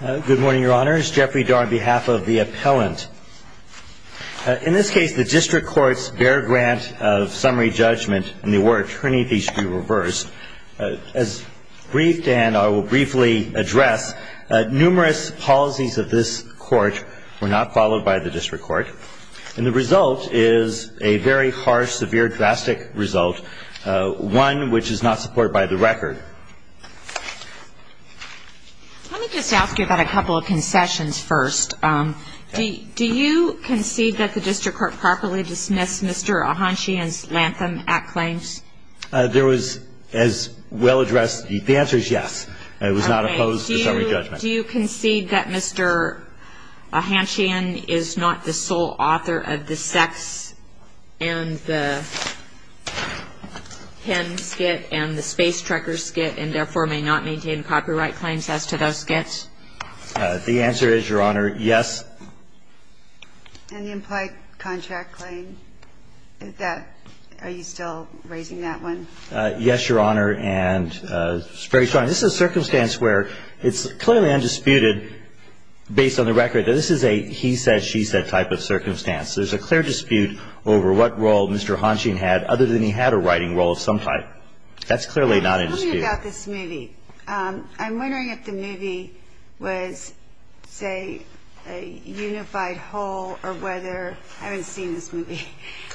Good morning, Your Honors. Jeffrey Dore on behalf of the appellant. In this case, the district court's bare grant of summary judgment and the award of trinity should be reversed. As briefed and I will briefly address, numerous policies of this court were not followed by the district court. And the result is a very harsh, severe, drastic result, one which is not supported by the record. Let me just ask you about a couple of concessions first. Do you concede that the district court properly dismissed Mr. Ahanchian's Lantham Act claims? There was, as well addressed, the answer is yes. It was not opposed to summary judgment. Do you concede that Mr. Ahanchian is not the sole author of the sex and the pen skit and the space trekker skit and therefore may not maintain copyright claims as to those skits? The answer is, Your Honor, yes. And the implied contract claim, are you still raising that one? Yes, Your Honor, and it's very strong. This is a circumstance where it's clearly undisputed based on the record that this is a he said, she said type of circumstance. There's a clear dispute over what role Mr. Ahanchian had other than he had a writing role of some type. That's clearly not a dispute. Tell me about this movie. I'm wondering if the movie was, say, a unified whole or whether, I haven't seen this movie,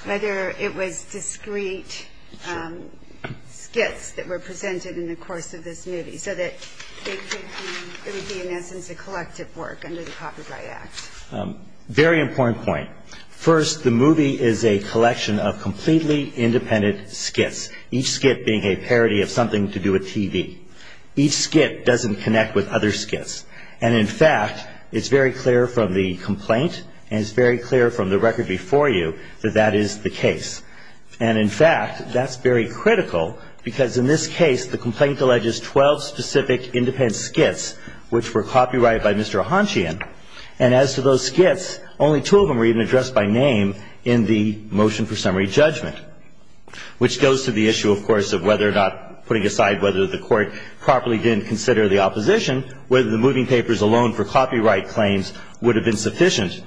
whether it was discrete skits that were presented in the course of this movie so that it would be, in essence, a collective work under the Copyright Act. Very important point. First, the movie is a collection of completely independent skits, each skit being a parody of something to do with TV. Each skit doesn't connect with other skits. And in fact, it's very clear from the complaint and it's very clear from the record before you that that is the case. And in fact, that's very critical, because in this case, the complaint alleges 12 specific independent skits which were copyrighted by Mr. Ahanchian. And as to those skits, only two of them were even addressed by name in the motion for summary judgment, which goes to the issue, of course, of whether or not, putting aside whether the court properly didn't consider the opposition, whether the moving papers alone for copyright claims would have been sufficient.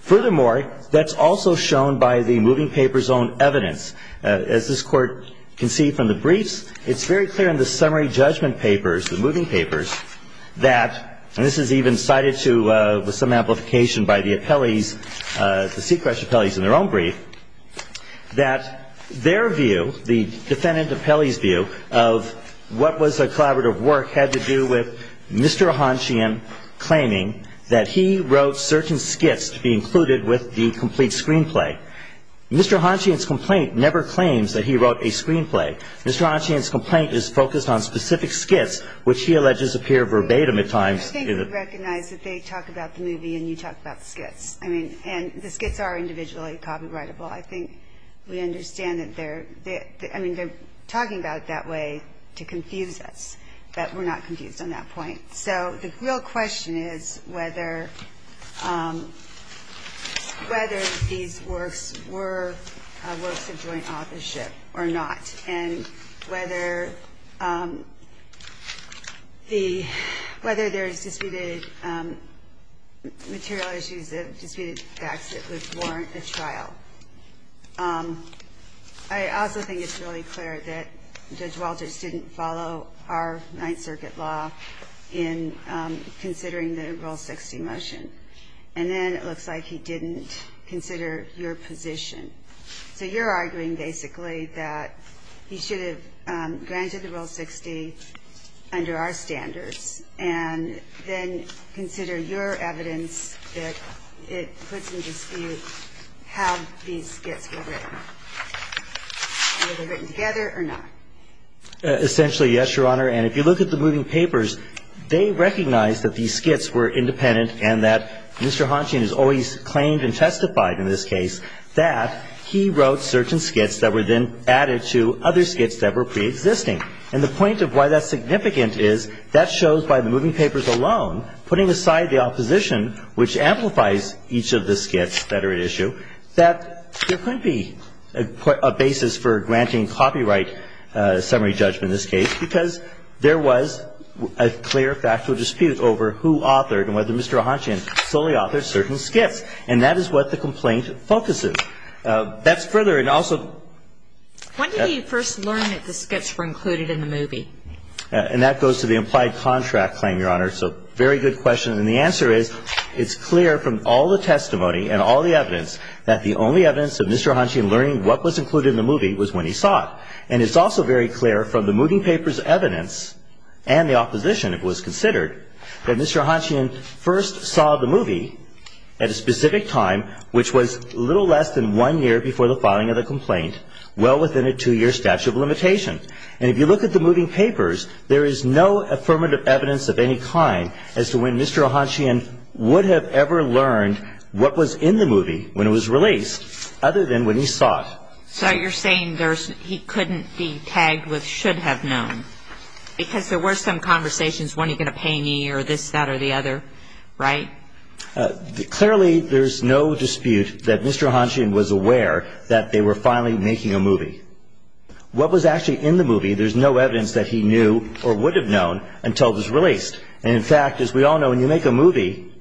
Furthermore, that's also shown by the moving papers own evidence. As this court can see from the briefs, it's very clear in the summary judgment papers, the moving papers, that, and this is even cited with some amplification by the sequestered appellees in their own brief, that their view, the defendant appellee's view, of what was a collaborative work had to do with Mr. Ahanchian claiming that he wrote certain skits to be included with the complete screenplay. Mr. Ahanchian's complaint never claims that he wrote a screenplay. Mr. Ahanchian's complaint is focused on specific skits, which he alleges appear verbatim at times in it. I think we recognize that they talk about the movie and you talk about the skits. And the skits are individually copyrightable. I think we understand that they're talking about it that way to confuse us, but we're not confused on that point. So the real question is whether these works were works of joint authorship or not. And whether there's disputed material issues, disputed facts that would warrant a trial. I also think it's really clear that Judge Walters didn't follow our Ninth Circuit law in considering the Rule 60 motion. And then it looks like he didn't consider your position. So you're arguing basically that he should have granted the Rule 60 under our standards and then consider your evidence that it puts in dispute how these skits were written. Whether they're written together or not. Essentially, yes, Your Honor. And if you look at the moving papers, they recognize that these skits were independent and that Mr. Ahanchian has always claimed and testified in this case that he wrote certain skits that were then added to other skits that were pre-existing. And the point of why that's significant is that shows by the moving papers alone, putting aside the opposition, which amplifies each of the skits that are at issue, that there couldn't be a basis for granting copyright summary judgment in this case. Because there was a clear factual dispute over who authored and whether Mr. Ahanchian solely authored certain skits. And that is what the complaint focuses. That's further, and also- When did he first learn that the skits were included in the movie? And that goes to the implied contract claim, Your Honor. So very good question. And the answer is, it's clear from all the testimony and all the evidence that the only evidence of Mr. Ahanchian learning what was included in the movie was when he saw it. And it's also very clear from the moving papers evidence and the opposition, it was considered, that Mr. Ahanchian first saw the movie at a specific time, which was little less than one year before the filing of the complaint, well within a two-year statute of limitation. And if you look at the moving papers, there is no affirmative evidence of any kind as to when Mr. Ahanchian would have ever learned what was in the movie when it was released, other than when he saw it. So you're saying he couldn't be tagged with should have known. Because there were some conversations, when are you going to pay me, or this, that, or the other, right? Clearly, there's no dispute that Mr. Ahanchian was aware that they were finally making a movie. What was actually in the movie, there's no evidence that he knew or would have known until it was released. And in fact, as we all know, when you make a movie,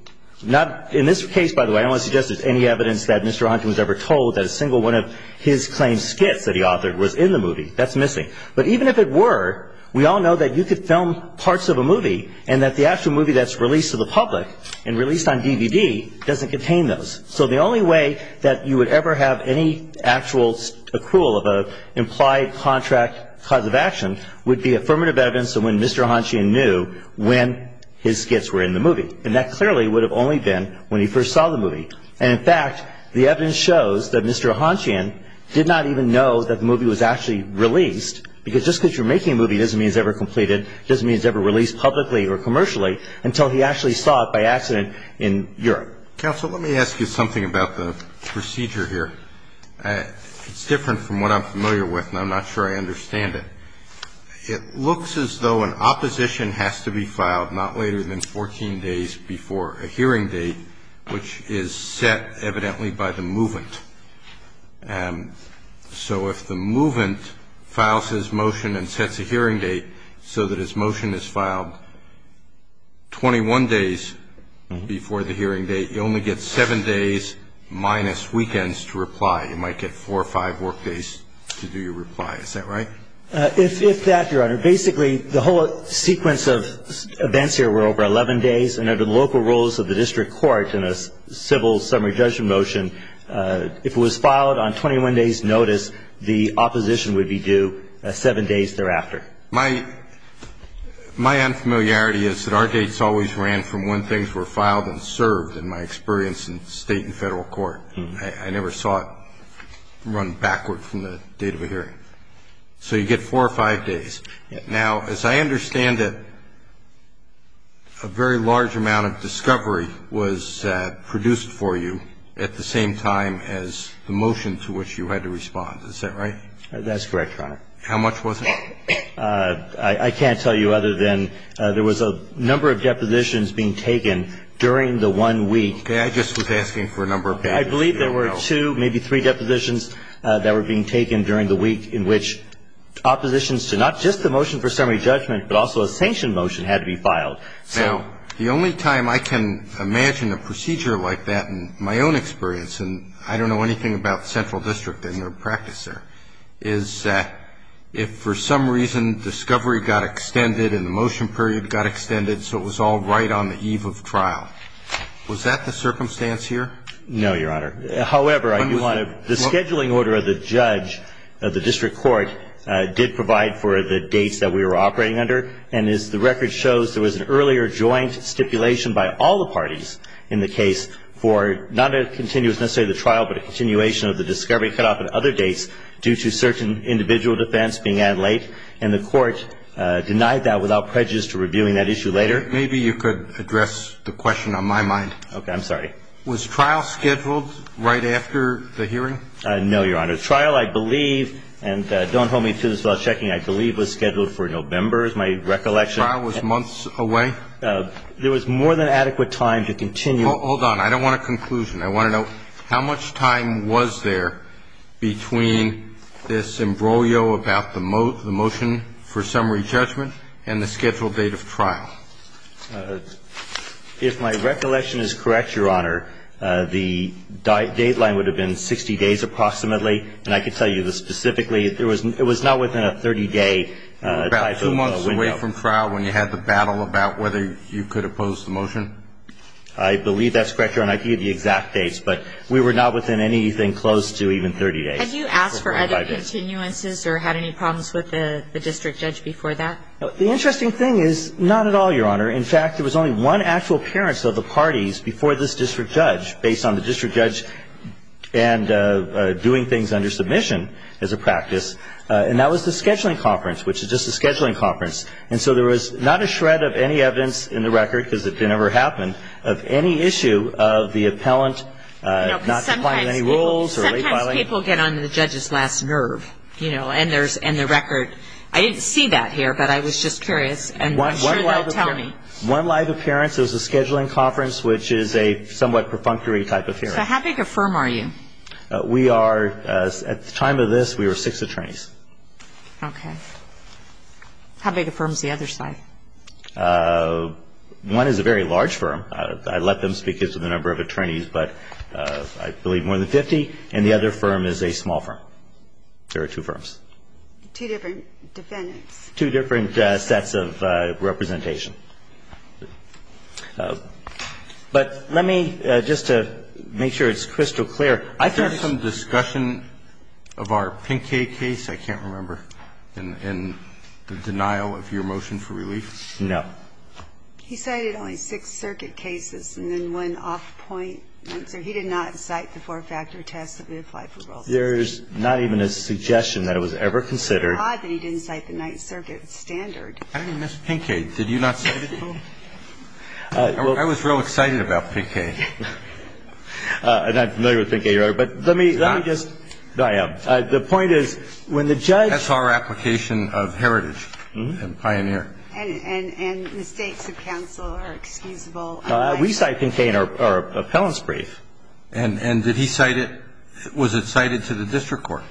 not in this case, by the way, I don't want to suggest there's any evidence that Mr. Ahanchian was ever told that a single one of his claimed skits that he authored was in the movie. That's missing. But even if it were, we all know that you could film parts of a movie, and that the actual movie that's released to the public and released on DVD doesn't contain those. So the only way that you would ever have any actual accrual of an implied contract cause of action would be affirmative evidence of when Mr. Ahanchian knew when his skits were in the movie. And that clearly would have only been when he first saw the movie. And in fact, the evidence shows that Mr. Ahanchian did not even know that the movie was actually released. Because just because you're making a movie doesn't mean it's ever completed. Doesn't mean it's ever released publicly or commercially until he actually saw it by accident in Europe. Counsel, let me ask you something about the procedure here. It's different from what I'm familiar with, and I'm not sure I understand it. It looks as though an opposition has to be filed not later than 14 days before a hearing date, which is set evidently by the movement. So if the movement files his motion and sets a hearing date so that his motion is filed 21 days before the hearing date, you only get seven days minus weekends to reply. You might get four or five work days to do your reply. Is that right? If that, Your Honor, basically the whole sequence of events here were over 11 days. And under the local rules of the district court in a civil summary judgment motion, if it was filed on 21 days notice, the opposition would be due seven days thereafter. My unfamiliarity is that our dates always ran from when things were filed and served, in my experience, in state and federal court. I never saw it run backward from the date of a hearing. So you get four or five days. Now, as I understand it, a very large amount of discovery was produced for you at the same time as the motion to which you had to respond. Is that right? That's correct, Your Honor. How much was it? I can't tell you other than there was a number of depositions being taken during the one week. I just was asking for a number of pages. I believe there were two, maybe three, depositions that were being taken during the week but also a sanctioned motion had to be filed. Now, the only time I can imagine a procedure like that in my own experience, and I don't know anything about central district and their practice there, is that if for some reason discovery got extended and the motion period got extended so it was all right on the eve of trial. Was that the circumstance here? No, Your Honor. However, the scheduling order of the judge of the district court did provide for the dates that we were operating under. And as the record shows, there was an earlier joint stipulation by all the parties in the case for not a continuous, necessarily the trial, but a continuation of the discovery cutoff and other dates due to certain individual defense being added late. And the court denied that without prejudice to reviewing that issue later. Maybe you could address the question on my mind. OK, I'm sorry. Was trial scheduled right after the hearing? No, Your Honor. Trial, I believe, and don't hold me to this without checking, I believe was scheduled for November is my recollection. So trial was months away? There was more than adequate time to continue. Hold on. I don't want a conclusion. I want to know how much time was there between this imbroglio about the motion for summary judgment and the scheduled date of trial. If my recollection is correct, Your Honor, the date line would have been 60 days approximately. And I can tell you specifically, it was not within a 30-day window. About two months away from trial when you had the battle about whether you could oppose the motion? I believe that's correct, Your Honor. I can give you exact dates. But we were not within anything close to even 30 days. Had you asked for other continuances or had any problems with the district judge before that? The interesting thing is not at all, Your Honor. In fact, there was only one actual appearance of the parties before this district judge, based on the district judge and doing things under submission as a practice. And that was the scheduling conference, which is just a scheduling conference. And so there was not a shred of any evidence in the record, because it never happened, of any issue of the appellant not complying with any rules or late filing. Sometimes people get on the judge's last nerve, and the record. I didn't see that here, but I was just curious. And I'm sure they'll tell me. One live appearance. It was a scheduling conference, which is a somewhat perfunctory type of hearing. So how big a firm are you? We are, at the time of this, we were six attorneys. OK. How big a firm is the other side? One is a very large firm. I'd let them speak as to the number of attorneys, but I believe more than 50. And the other firm is a small firm. There are two firms. Two different defendants. Two different sets of representation. But let me, just to make sure it's crystal clear, I think Is there some discussion of our Pincaid case? I can't remember, in the denial of your motion for relief. No. He cited only six circuit cases, and then one off-point answer. He did not cite the four-factor test that we applied for Rolls-Royce. There's not even a suggestion that it was ever considered. It's odd that he didn't cite the Ninth Circuit standard. How did he miss Pincaid? Did you not cite it, though? I was real excited about Pincaid. I'm not familiar with Pincaid, Your Honor, but let me just No, I am. The point is, when the judge That's our application of heritage and pioneer. And the stakes of counsel are excusable. We cite Pincaid in our appellant's brief. And did he cite it? Was it cited to the district court?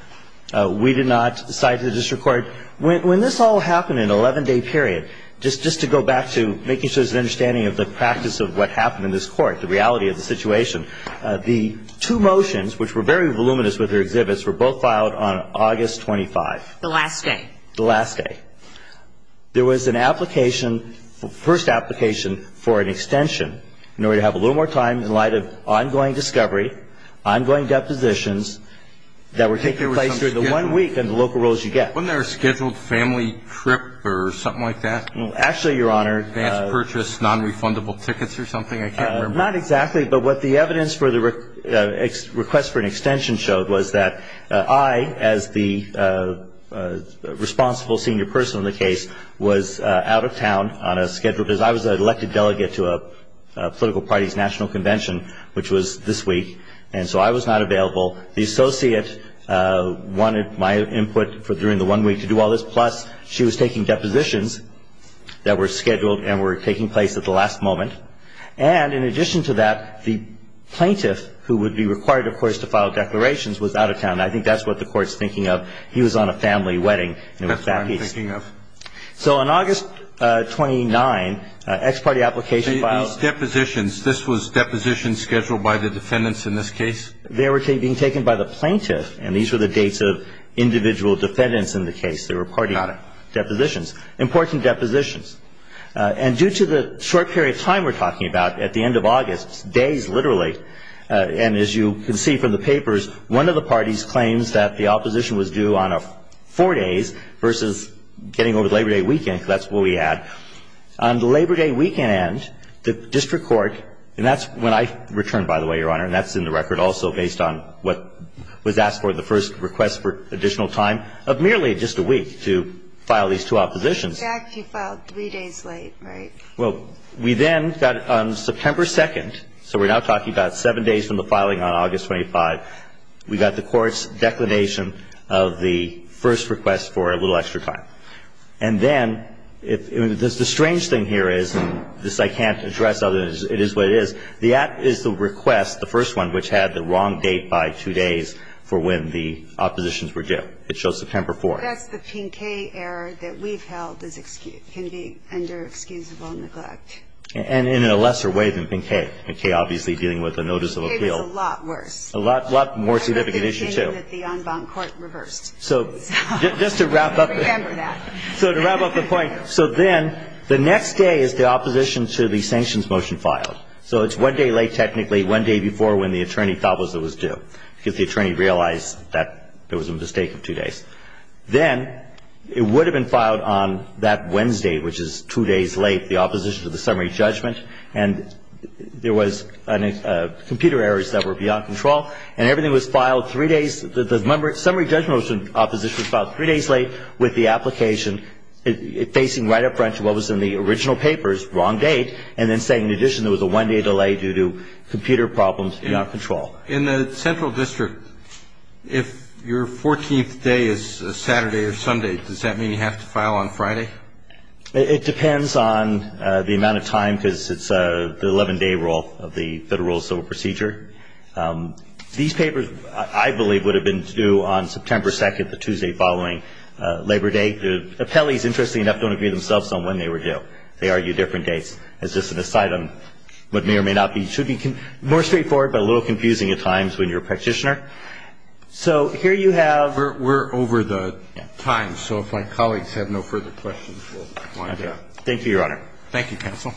We did not cite it to the district court. When this all happened in an 11-day period, just to go back to making sure there's an understanding of the practice of what happened in this court, the reality of the situation, the two motions, which were very voluminous with their exhibits, were both filed on August 25th. The last day. The last day. There was an application, first application for an extension in order to have a little more time in light of ongoing discovery, ongoing depositions that were taking place during the one week and the local rolls you get. Wasn't there a scheduled family trip or something like that? Well, actually, Your Honor Advanced purchase, non-refundable tickets or something? I can't remember. Not exactly. But what the evidence for the request for an extension showed was that I, as the responsible senior person in the case, was out of town on a schedule. Because I was an elected delegate to a political party's national convention, which was this week. And so I was not available. The associate wanted my input for during the one week to do all this. Plus, she was taking depositions that were scheduled and were taking place at the last moment. And in addition to that, the plaintiff, who would be required, of course, to file declarations, was out of town. I think that's what the Court's thinking of. He was on a family wedding. That's what I'm thinking of. So on August 29, ex parte application filed. These depositions, this was depositions scheduled by the defendants in this case? They were being taken by the plaintiff. And these were the dates of individual defendants in the case. They were party depositions. Important depositions. And due to the short period of time we're talking about, at the end of August, days literally, and as you can see from the papers, one of the parties claims that the opposition was due on four days versus getting over the Labor Day weekend. That's what we had. On the Labor Day weekend, the district court, and that's when I returned, by the way, Your Honor. And that's in the record also based on what was asked for in the first request for additional time of merely just a week to file these two oppositions. Exactly. You filed three days late, right? Well, we then got on September 2nd, so we're now talking about seven days from the filing on August 25. We got the Court's declination of the first request for a little extra time. And then, the strange thing here is, and this I can't address other than it is what it is. The act is the request, the first one, which had the wrong date by two days for when the oppositions were due. It shows September 4th. That's the Pinkei error that we've held can be under excusable neglect. And in a lesser way than Pinkei. Pinkei obviously dealing with a notice of appeal. Pinkei was a lot worse. A lot more significant issue, too. And the opinion that the en banc court reversed. So just to wrap up. Remember that. So to wrap up the point. So then, the next day is the opposition to the sanctions motion filed. So it's one day late technically. One day before when the attorney thought it was due. If the attorney realized that there was a mistake of two days. Then, it would have been filed on that Wednesday, which is two days late. The opposition to the summary judgment. And there was computer errors that were beyond control. And everything was filed three days, the summary judgment was filed three days late. With the application facing right up front to what was in the original papers, wrong date. And then saying, in addition, there was a one day delay due to computer problems beyond control. In the central district, if your 14th day is a Saturday or Sunday. Does that mean you have to file on Friday? It depends on the amount of time, because it's the 11 day rule of the Federal Civil Procedure. These papers, I believe, would have been due on September 2nd, the Tuesday following Labor Day. The appellees, interestingly enough, don't agree themselves on when they were due. They argue different dates. As just an aside on what may or may not be. Should be more straightforward, but a little confusing at times when you're a practitioner. So, here you have- We're over the time, so if my colleagues have no further questions, we'll wind up. Thank you, Your Honor. Thank you, counsel.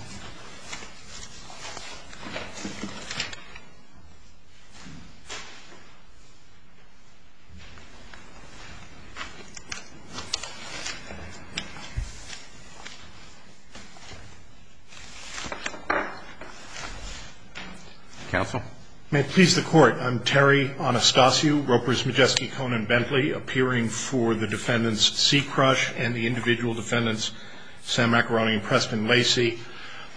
May it please the court, I'm Terry Anastasiou, Ropers, Majeski, Cohn, and Bentley, appearing for the defendants, Seacrush, and the individual defendants, Sam Macaroni and Preston Lacey.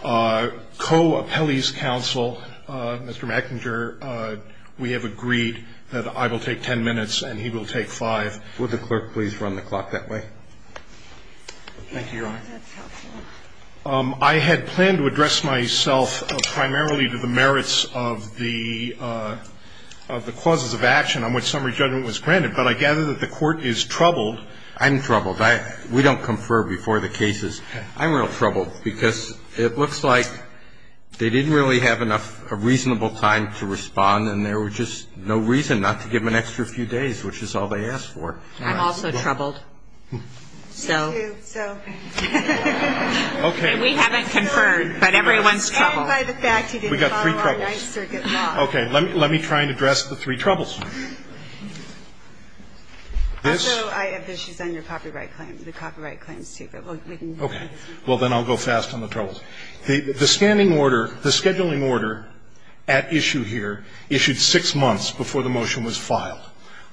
Co-appellees' counsel, Mr. McInger, we have agreed that I will take ten minutes and he will take five. Would the clerk please run the clock that way? Thank you, Your Honor. That's helpful. I had planned to address myself primarily to the merits of the causes of action on which summary judgment was granted, but I gather that the court is troubled. I'm troubled. We don't confer before the cases. I'm real troubled because it looks like they didn't really have enough reasonable time to respond, and there was just no reason not to give them an extra few days, which is all they asked for. I'm also troubled. Me, too. We haven't conferred, but everyone's troubled. We got three troubles. Okay. Let me try and address the three troubles. Also, I have issues on your copyright claim, the copyright claims, too. Okay. Well, then I'll go fast on the troubles. The standing order, the scheduling order at issue here issued six months before the motion was filed.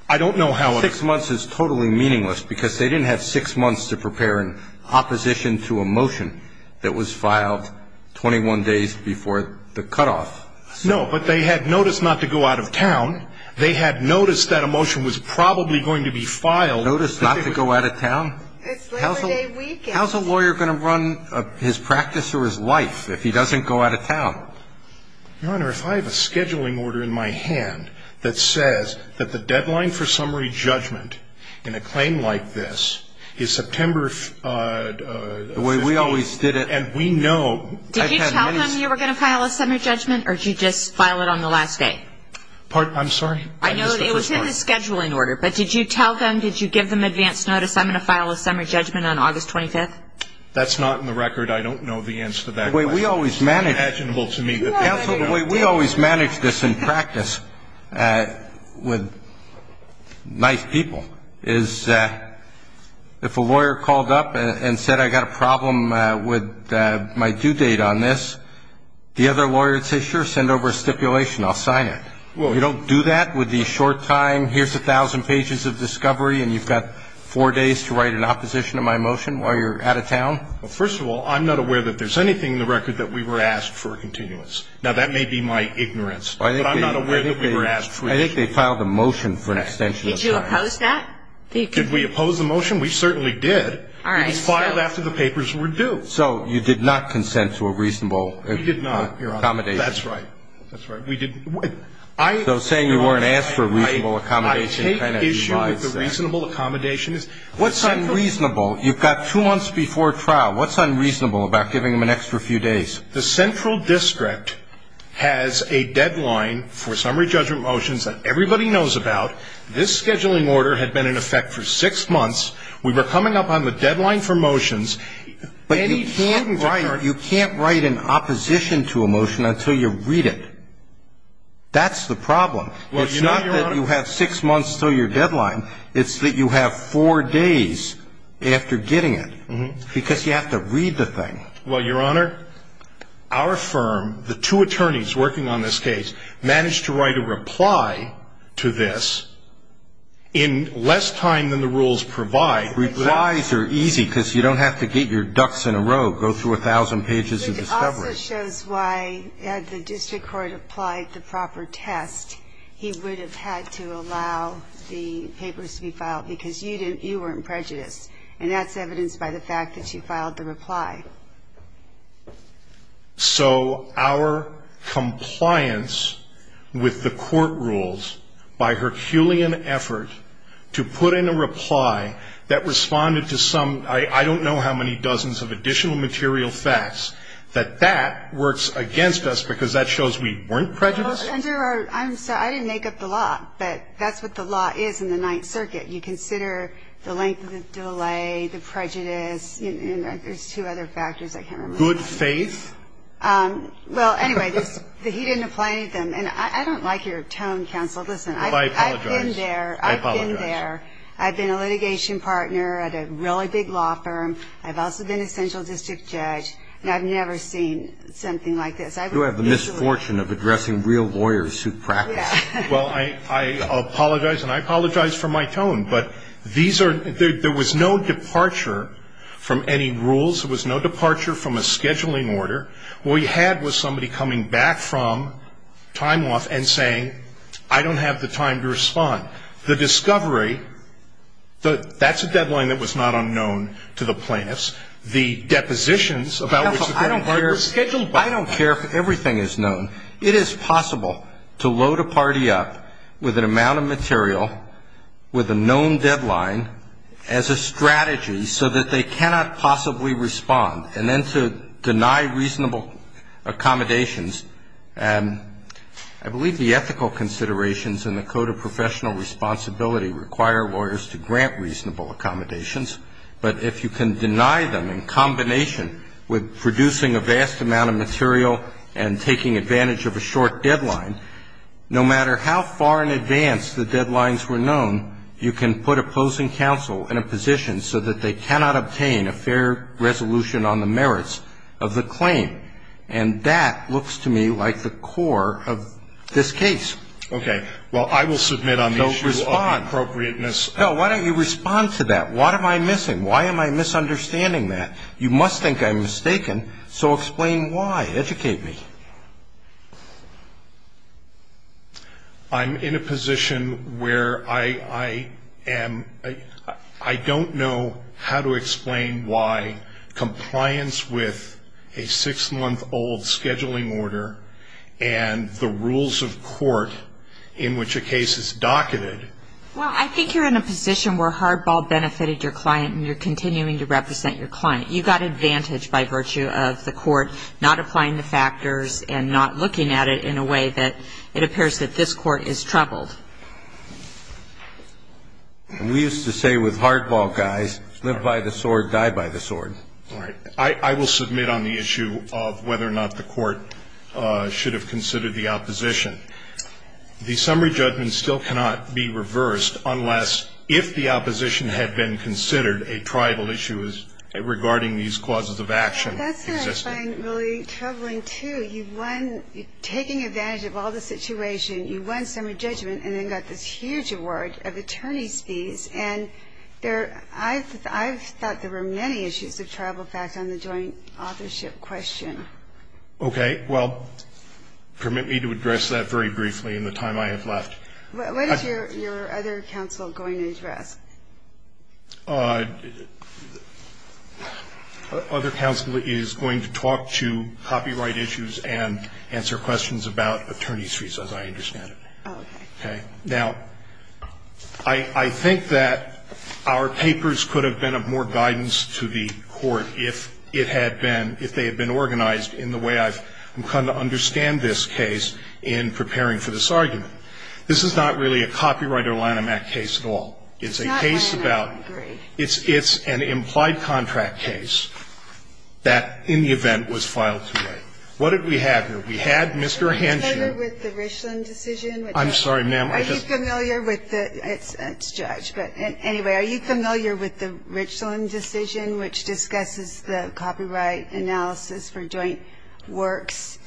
I don't know how a ---- Six months is totally meaningless because they didn't have six months to prepare in opposition to a motion that was filed 21 days before the cutoff. No, but they had noticed not to go out of town. They had noticed that a motion was probably going to be filed. Noticed not to go out of town? It's Labor Day weekend. How's a lawyer going to run his practice or his life if he doesn't go out of town? Your Honor, if I have a scheduling order in my hand that says that the deadline for summary judgment in a claim like this is September 15th. The way we always did it. And we know. Did you tell them you were going to file a summary judgment or did you just file it on the last day? I'm sorry. I know it was in the scheduling order, but did you tell them, did you give them advance notice, I'm going to file a summary judgment on August 25th? That's not in the record. I don't know the answer to that question. The way we always manage this in practice with nice people is if a lawyer called up and said, I've got a problem with my due date on this, the other lawyer would say, sure, send over a stipulation, I'll sign it. You don't do that with the short time, here's a thousand pages of discovery and you've got four days to write an opposition to my motion while you're out of town? Well, first of all, I'm not aware that there's anything in the record that we were asked for a continuance. Now, that may be my ignorance, but I'm not aware that we were asked for a continuance. I think they filed a motion for an extension of time. Did you oppose that? Did we oppose the motion? We certainly did. All right. It was filed after the papers were due. So you did not consent to a reasonable accommodation. We did not, Your Honor. That's right. That's right. So saying you weren't asked for a reasonable accommodation kind of lies. I take issue with the reasonable accommodation. What's unreasonable? You've got two months before trial. What's unreasonable about giving them an extra few days? The central district has a deadline for summary judgment motions that everybody knows about. This scheduling order had been in effect for six months. We were coming up on the deadline for motions. But you can't write an opposition to a motion until you read it. That's the problem. It's not that you have six months until your deadline. It's that you have four days after getting it. Because you have to read the thing. Well, Your Honor, our firm, the two attorneys working on this case, managed to write a reply to this in less time than the rules provide. Replies are easy because you don't have to get your ducks in a row, go through a thousand pages of discovery. This also shows why, had the district court applied the proper test, he would have had to allow the papers to be filed because you weren't prejudiced. And that's evidenced by the fact that you filed the reply. So our compliance with the court rules by Herculean effort to put in a reply that responded to some, I don't know how many dozens of additional material facts, that that works against us because that shows we weren't prejudiced? I'm sorry. I didn't make up the law. But that's what the law is in the Ninth Circuit. You consider the length of the delay, the prejudice, and there's two other factors I can't remember. Good faith? Well, anyway, he didn't apply any of them. And I don't like your tone, counsel. Listen, I've been there. Well, I apologize. I've been there. I've been a consulting partner at a really big law firm. I've also been a central district judge. And I've never seen something like this. You have the misfortune of addressing real lawyers who practice it. Well, I apologize, and I apologize for my tone. But there was no departure from any rules. There was no departure from a scheduling order. What we had was somebody coming back from time off and saying, I don't have the time to respond. The discovery, that's a deadline that was not unknown to the plaintiffs. The depositions about which the party was scheduled by the party. I don't care if everything is known. It is possible to load a party up with an amount of material, with a known deadline, as a strategy, so that they cannot possibly respond, and then to deny reasonable accommodations. I believe the ethical considerations in the Code of Professional Responsibility require lawyers to grant reasonable accommodations. But if you can deny them in combination with producing a vast amount of material and taking advantage of a short deadline, no matter how far in advance the deadlines were known, you can put opposing counsel in a position so that they cannot obtain a fair resolution on the merits of the claim. And that looks to me like the core of this case. Okay. Well, I will submit on the issue of appropriateness. No, why don't you respond to that? What am I missing? Why am I misunderstanding that? You must think I'm mistaken. So explain why. Educate me. I'm in a position where I don't know how to explain why compliance with a six-month-old scheduling order and the rules of court in which a case is docketed. Well, I think you're in a position where hardball benefited your client and you're continuing to represent your client. You got advantage by virtue of the court not applying the factors and not looking at it in a way that it appears that this court is troubled. We used to say with hardball guys, live by the sword, die by the sword. All right. I will submit on the issue of whether or not the court should have considered the opposition. The summary judgment still cannot be reversed unless, if the opposition had been considered a tribal issue regarding these causes of action. That's what I find really troubling, too. You won taking advantage of all the situation. You won summary judgment and then got this huge award of attorney's fees. And I've thought there were many issues of tribal fact on the joint authorship question. Okay. Well, permit me to address that very briefly in the time I have left. What is your other counsel going to address? Other counsel is going to talk to copyright issues and answer questions about attorney's fees as I understand it. Okay. Now, I think that our papers could have been of more guidance to the court if it had been, if they had been organized in the way I'm trying to understand this case in preparing for this argument. This is not really a copyright or Lanham Act case at all. It's a case about. I agree. It's an implied contract case that in the event was filed today. What did we have here? We had Mr. Henshaw. Are you familiar with the Richland decision? I'm sorry, ma'am. Are you familiar with the – it's Judge. But anyway, are you familiar with the Richland decision which discusses the copyright analysis for joint works?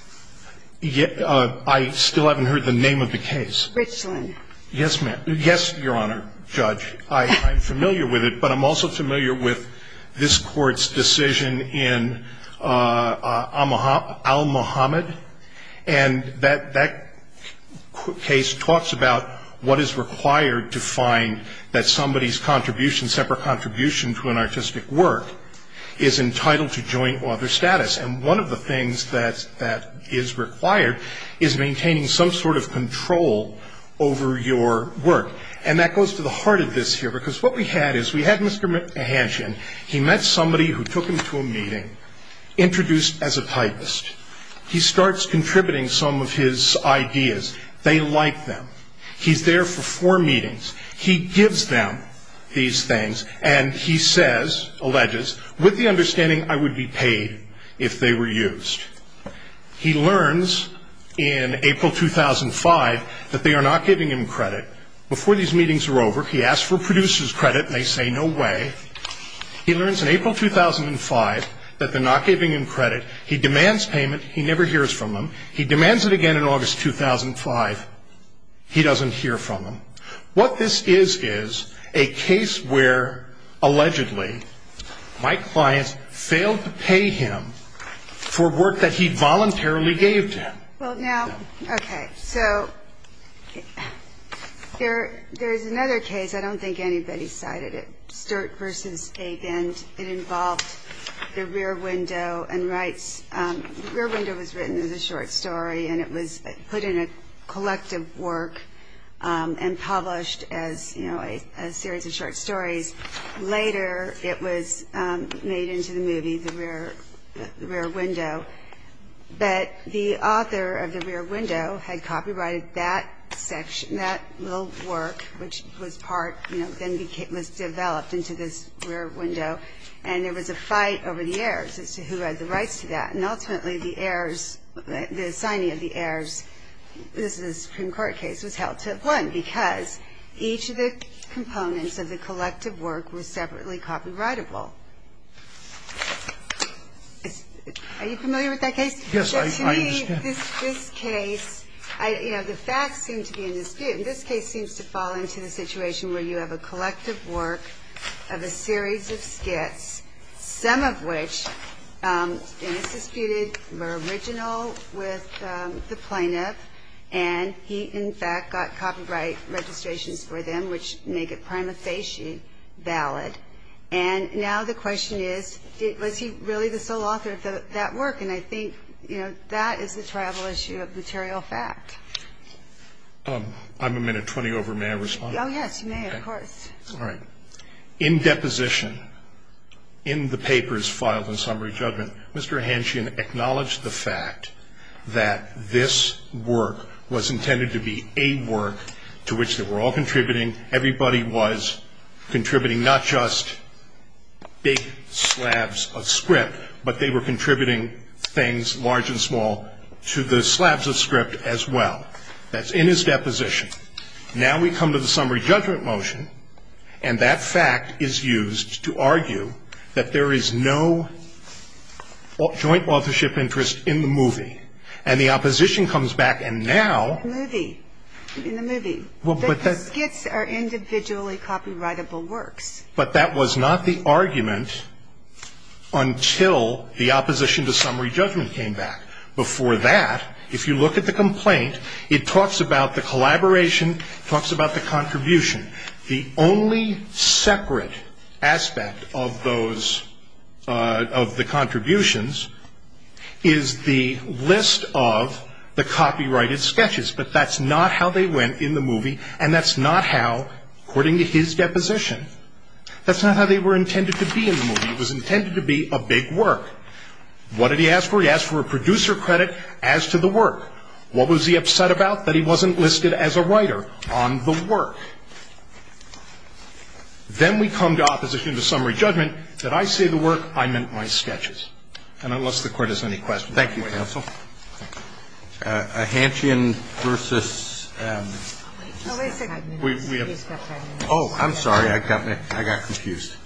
I still haven't heard the name of the case. Richland. Yes, ma'am. Yes, Your Honor, Judge. I'm familiar with it. But I'm also familiar with this Court's decision in Al-Muhammad. And that case talks about what is required to find that somebody's contribution, separate contribution to an artistic work is entitled to joint author status. And one of the things that is required is maintaining some sort of control over your work. And that goes to the heart of this here. Because what we had is we had Mr. Henshaw. He met somebody who took him to a meeting, introduced as a typist. He starts contributing some of his ideas. They like them. He's there for four meetings. He gives them these things. And he says, alleges, with the understanding I would be paid if they were used. He learns in April 2005 that they are not giving him credit. Before these meetings are over, he asks for producer's credit, and they say no way. He learns in April 2005 that they're not giving him credit. He demands payment. He never hears from him. He demands it again in August 2005. He doesn't hear from him. What this is is a case where, allegedly, my client failed to pay him for work that he voluntarily gave to him. Well, now, okay. So there's another case. I don't think anybody cited it. Sturt v. Agand. It involved the rear window and rights. The rear window was written as a short story, and it was put in a collective work. And published as a series of short stories. Later, it was made into the movie, the rear window. But the author of the rear window had copyrighted that section, that little work, which was part, then was developed into this rear window. And there was a fight over the heirs as to who had the rights to that. And ultimately, the heirs, the signing of the heirs, this is a Supreme Court case, was held to one, because each of the components of the collective work was separately copyrightable. Are you familiar with that case? Yes, I understand. This case, you know, the facts seem to be in dispute. And this case seems to fall into the situation where you have a collective work of a series of skits, some of which, and it's disputed, were original with the plaintiff. And he, in fact, got copyright registrations for them, which make it prima facie valid. And now the question is, was he really the sole author of that work? And I think, you know, that is the travel issue of material fact. I'm a minute 20 over. May I respond? Oh, yes, you may, of course. All right. In deposition, in the papers filed in summary judgment, Mr. Hanschen acknowledged the fact that this work was intended to be a work to which they were all contributing. Everybody was contributing not just big slabs of script, but they were contributing things large and small to the slabs of script as well. That's in his deposition. Now we come to the summary judgment motion, and that fact is used to argue that there is no joint authorship interest in the movie. And the opposition comes back and now. The movie. In the movie. Well, but that's. The skits are individually copyrightable works. But that was not the argument until the opposition to summary judgment came back. Before that, if you look at the complaint, it talks about the collaboration. It talks about the contribution. The only separate aspect of those, of the contributions, is the list of the copyrighted sketches. But that's not how they went in the movie, and that's not how, according to his deposition, that's not how they were intended to be in the movie. It was intended to be a big work. What did he ask for? He asked for a producer credit as to the work. What was he upset about? That he wasn't listed as a writer on the work. Then we come to opposition to summary judgment that I say the work, I meant my sketches. And unless the Court has any questions. Thank you, counsel. Hanschen versus. Oh, I'm sorry. I got confused.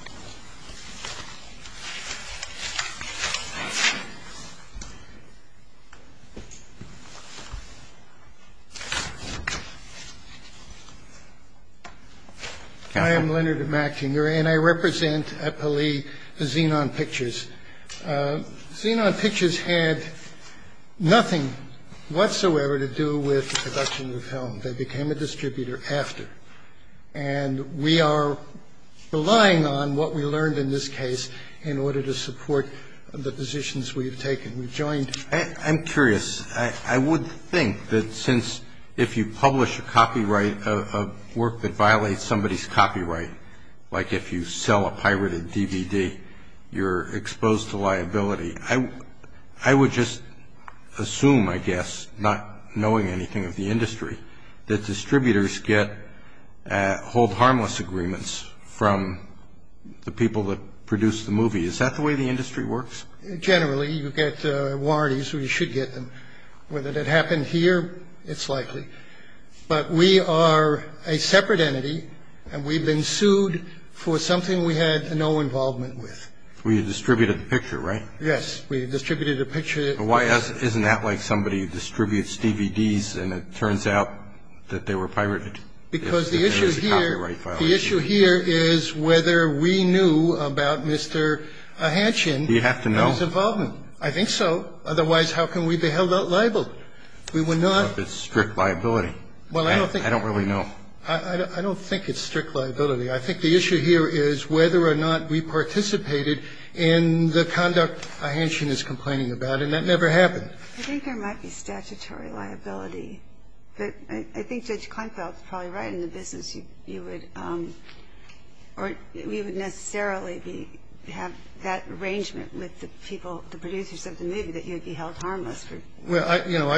I am Leonard Mackinger, and I represent at Pelley Xenon Pictures. Xenon Pictures had nothing whatsoever to do with the production of the film. They became a distributor after. And we are relying on what we learned in this case in order to support the positions we've taken. We've joined. I'm curious. I would think that since if you publish a copyright, a work that violates somebody's copyright, like if you sell a pirated DVD, you're exposed to liability. I would just assume, I guess, not knowing anything of the industry, that distributors hold harmless agreements from the people that produce the movie. Is that the way the industry works? Generally, you get warranties, or you should get them. Whether that happened here, it's likely. But we are a separate entity, and we've been sued for something we had no involvement with. We distributed the picture, right? Yes. We distributed a picture. Isn't that like somebody distributes DVDs, and it turns out that they were pirated? Because the issue here is whether we knew about Mr. Hanschen and his involvement. Do you have to know? I think so. Otherwise, how can we be held liable? It's strict liability. I don't really know. I don't think it's strict liability. I think the issue here is whether or not we participated in the conduct Hanschen is complaining about, and that never happened. I think there might be statutory liability. But I think Judge Kleinfeld is probably right. In the business, you would necessarily have that arrangement with the people, the producers of the movie, that you would be held harmless. Well, you know,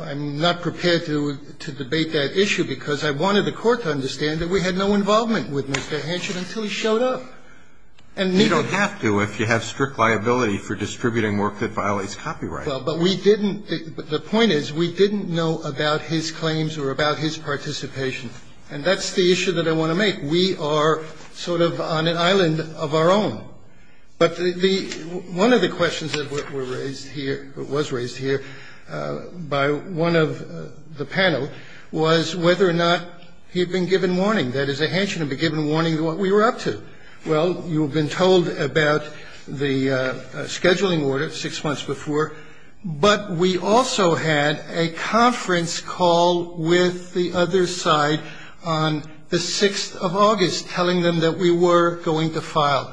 I'm not prepared to debate that issue because I wanted the Court to understand that we had no involvement with Mr. Hanschen until he showed up. And neither do I. You don't have to if you have strict liability for distributing work that violates copyright. Well, but we didn't. The point is we didn't know about his claims or about his participation. And that's the issue that I want to make. We are sort of on an island of our own. But the one of the questions that were raised here or was raised here by one of the panel was whether or not he had been given warning. That is, that Hanschen had been given warning of what we were up to. Well, you have been told about the scheduling order six months before. But we also had a conference call with the other side on the 6th of August telling them that we were going to file.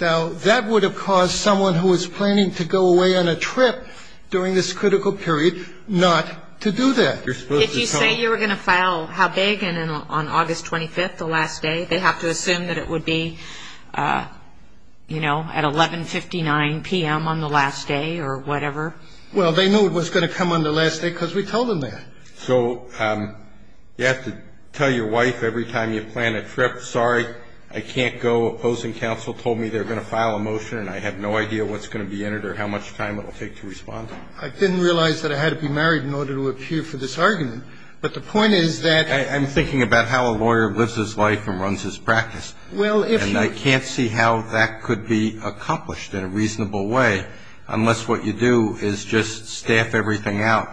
Now, that would have caused someone who was planning to go away on a trip during this critical period not to do that. Did you say you were going to file how big on August 25th, the last day? They have to assume that it would be, you know, at 1159 p.m. on the last day or whatever. Well, they knew it was going to come on the last day because we told them that. So you have to tell your wife every time you plan a trip, sorry, I can't go. Opposing counsel told me they're going to file a motion, and I have no idea what's going to be entered or how much time it will take to respond. I didn't realize that I had to be married in order to appear for this argument. But the point is that ---- I'm thinking about how a lawyer lives his life and runs his practice. Well, if you ---- And I can't see how that could be accomplished in a reasonable way unless what you do is just staff everything out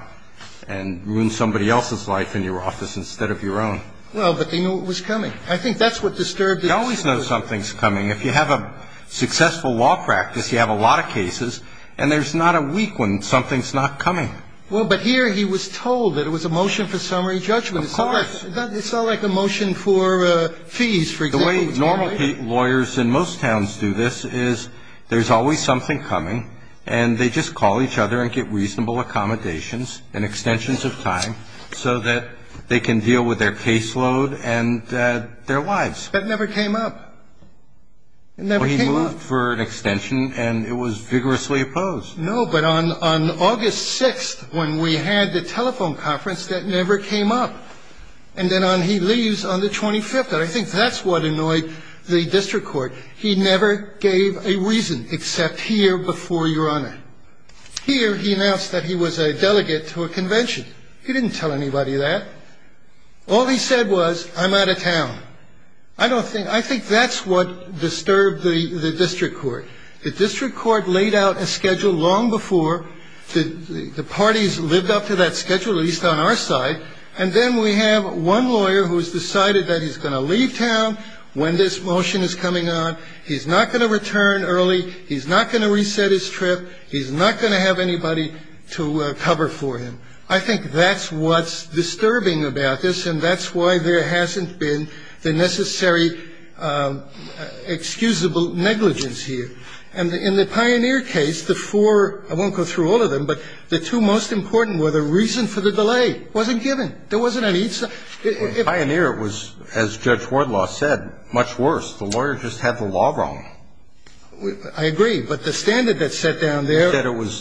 and ruin somebody else's life in your office instead of your own. Well, but they knew it was coming. I think that's what disturbed it. You always know something's coming. If you have a successful law practice, you have a lot of cases, and there's not a week when something's not coming. Well, but here he was told that it was a motion for summary judgment. Of course. It's not like a motion for fees, for example. The way normal lawyers in most towns do this is there's always something coming, and they just call each other and get reasonable accommodations and extensions of time so that they can deal with their caseload and their lives. That never came up. It never came up. Well, he moved for an extension, and it was vigorously opposed. No, but on August 6th when we had the telephone conference, that never came up. And then he leaves on the 25th. I think that's what annoyed the district court. He never gave a reason except here before your Honor. Here he announced that he was a delegate to a convention. All he said was, I'm out of town. I think that's what disturbed the district court. The district court laid out a schedule long before the parties lived up to that schedule, at least on our side. And then we have one lawyer who has decided that he's going to leave town when this motion is coming on. He's not going to return early. He's not going to reset his trip. He's not going to have anybody to cover for him. I think that's what's disturbing about this, and that's why there hasn't been the necessary excusable negligence here. And in the Pioneer case, the four ‑‑ I won't go through all of them, but the two most important were the reason for the delay wasn't given. There wasn't any ‑‑ In Pioneer, it was, as Judge Wardlaw said, much worse. The lawyer just had the law wrong. I agree. But the standard that's set down there ‑‑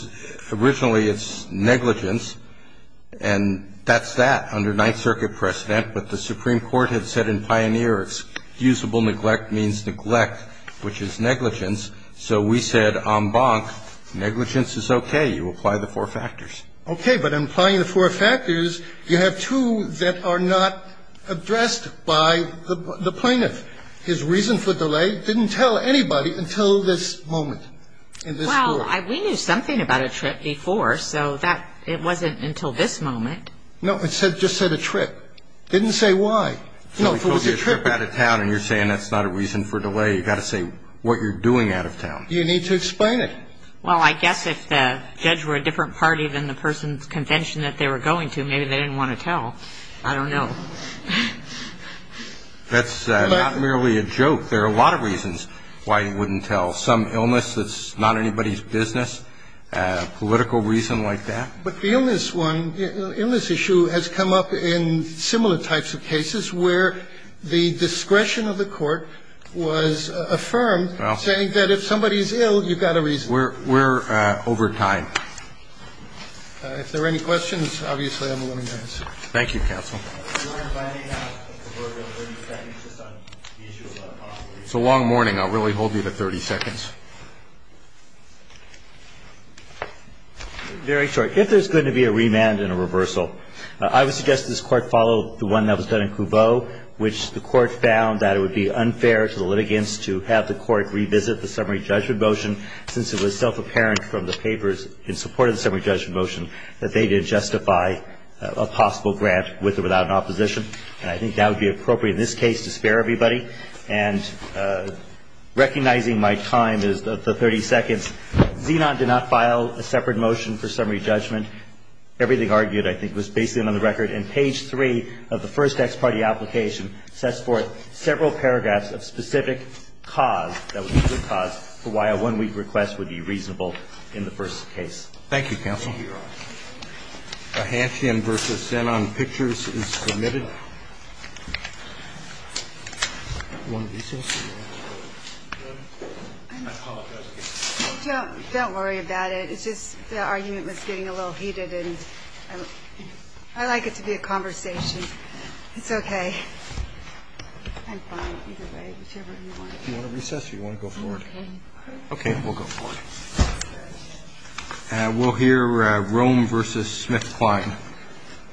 And that's that, under Ninth Circuit precedent. But the Supreme Court had said in Pioneer, excusable neglect means neglect, which is negligence. So we said, en banc, negligence is okay. You apply the four factors. Okay. But in applying the four factors, you have two that are not addressed by the plaintiff. His reason for delay didn't tell anybody until this moment in this court. Well, we knew something about a trip before, so it wasn't until this moment. No, it just said a trip. It didn't say why. No, if it was a trip. If somebody told you a trip out of town and you're saying that's not a reason for delay, you've got to say what you're doing out of town. You need to explain it. Well, I guess if the judge were a different party than the person's convention that they were going to, maybe they didn't want to tell. I don't know. That's not merely a joke. There are a lot of reasons why you wouldn't tell. Some illness that's not anybody's business, a political reason like that. But the illness one, the illness issue has come up in similar types of cases where the discretion of the court was affirmed saying that if somebody's ill, you've got a reason. We're over time. If there are any questions, obviously, I'm willing to answer. Thank you, counsel. So long morning. I'll really hold you to 30 seconds. Very short. If there's going to be a remand and a reversal, I would suggest this Court follow the one that was done in Couveau, which the Court found that it would be unfair to the litigants to have the Court revisit the summary judgment motion since it was self-apparent from the papers in support I think that would be appropriate in this case to spare everybody. And recognizing my time is the 30 seconds. Zenon did not file a separate motion for summary judgment. Everything argued, I think, was based in on the record. And page 3 of the first ex parte application sets forth several paragraphs of specific cause that would be good cause for why a one-week request would be reasonable in the first case. Thank you, counsel. The motion on page 3 of the first ex parte application now will be heard. A half-yen versus Zenon pictures is permitted. Do you want to recess? I apologize again. Don't worry about it. It's just the argument was getting a little heated. And I like it to be a conversation. It's okay. I'm fine either way, whichever you want. Do you want to recess or do you want to go forward? Okay, we'll go forward. We'll hear Rome versus Smith-Klein.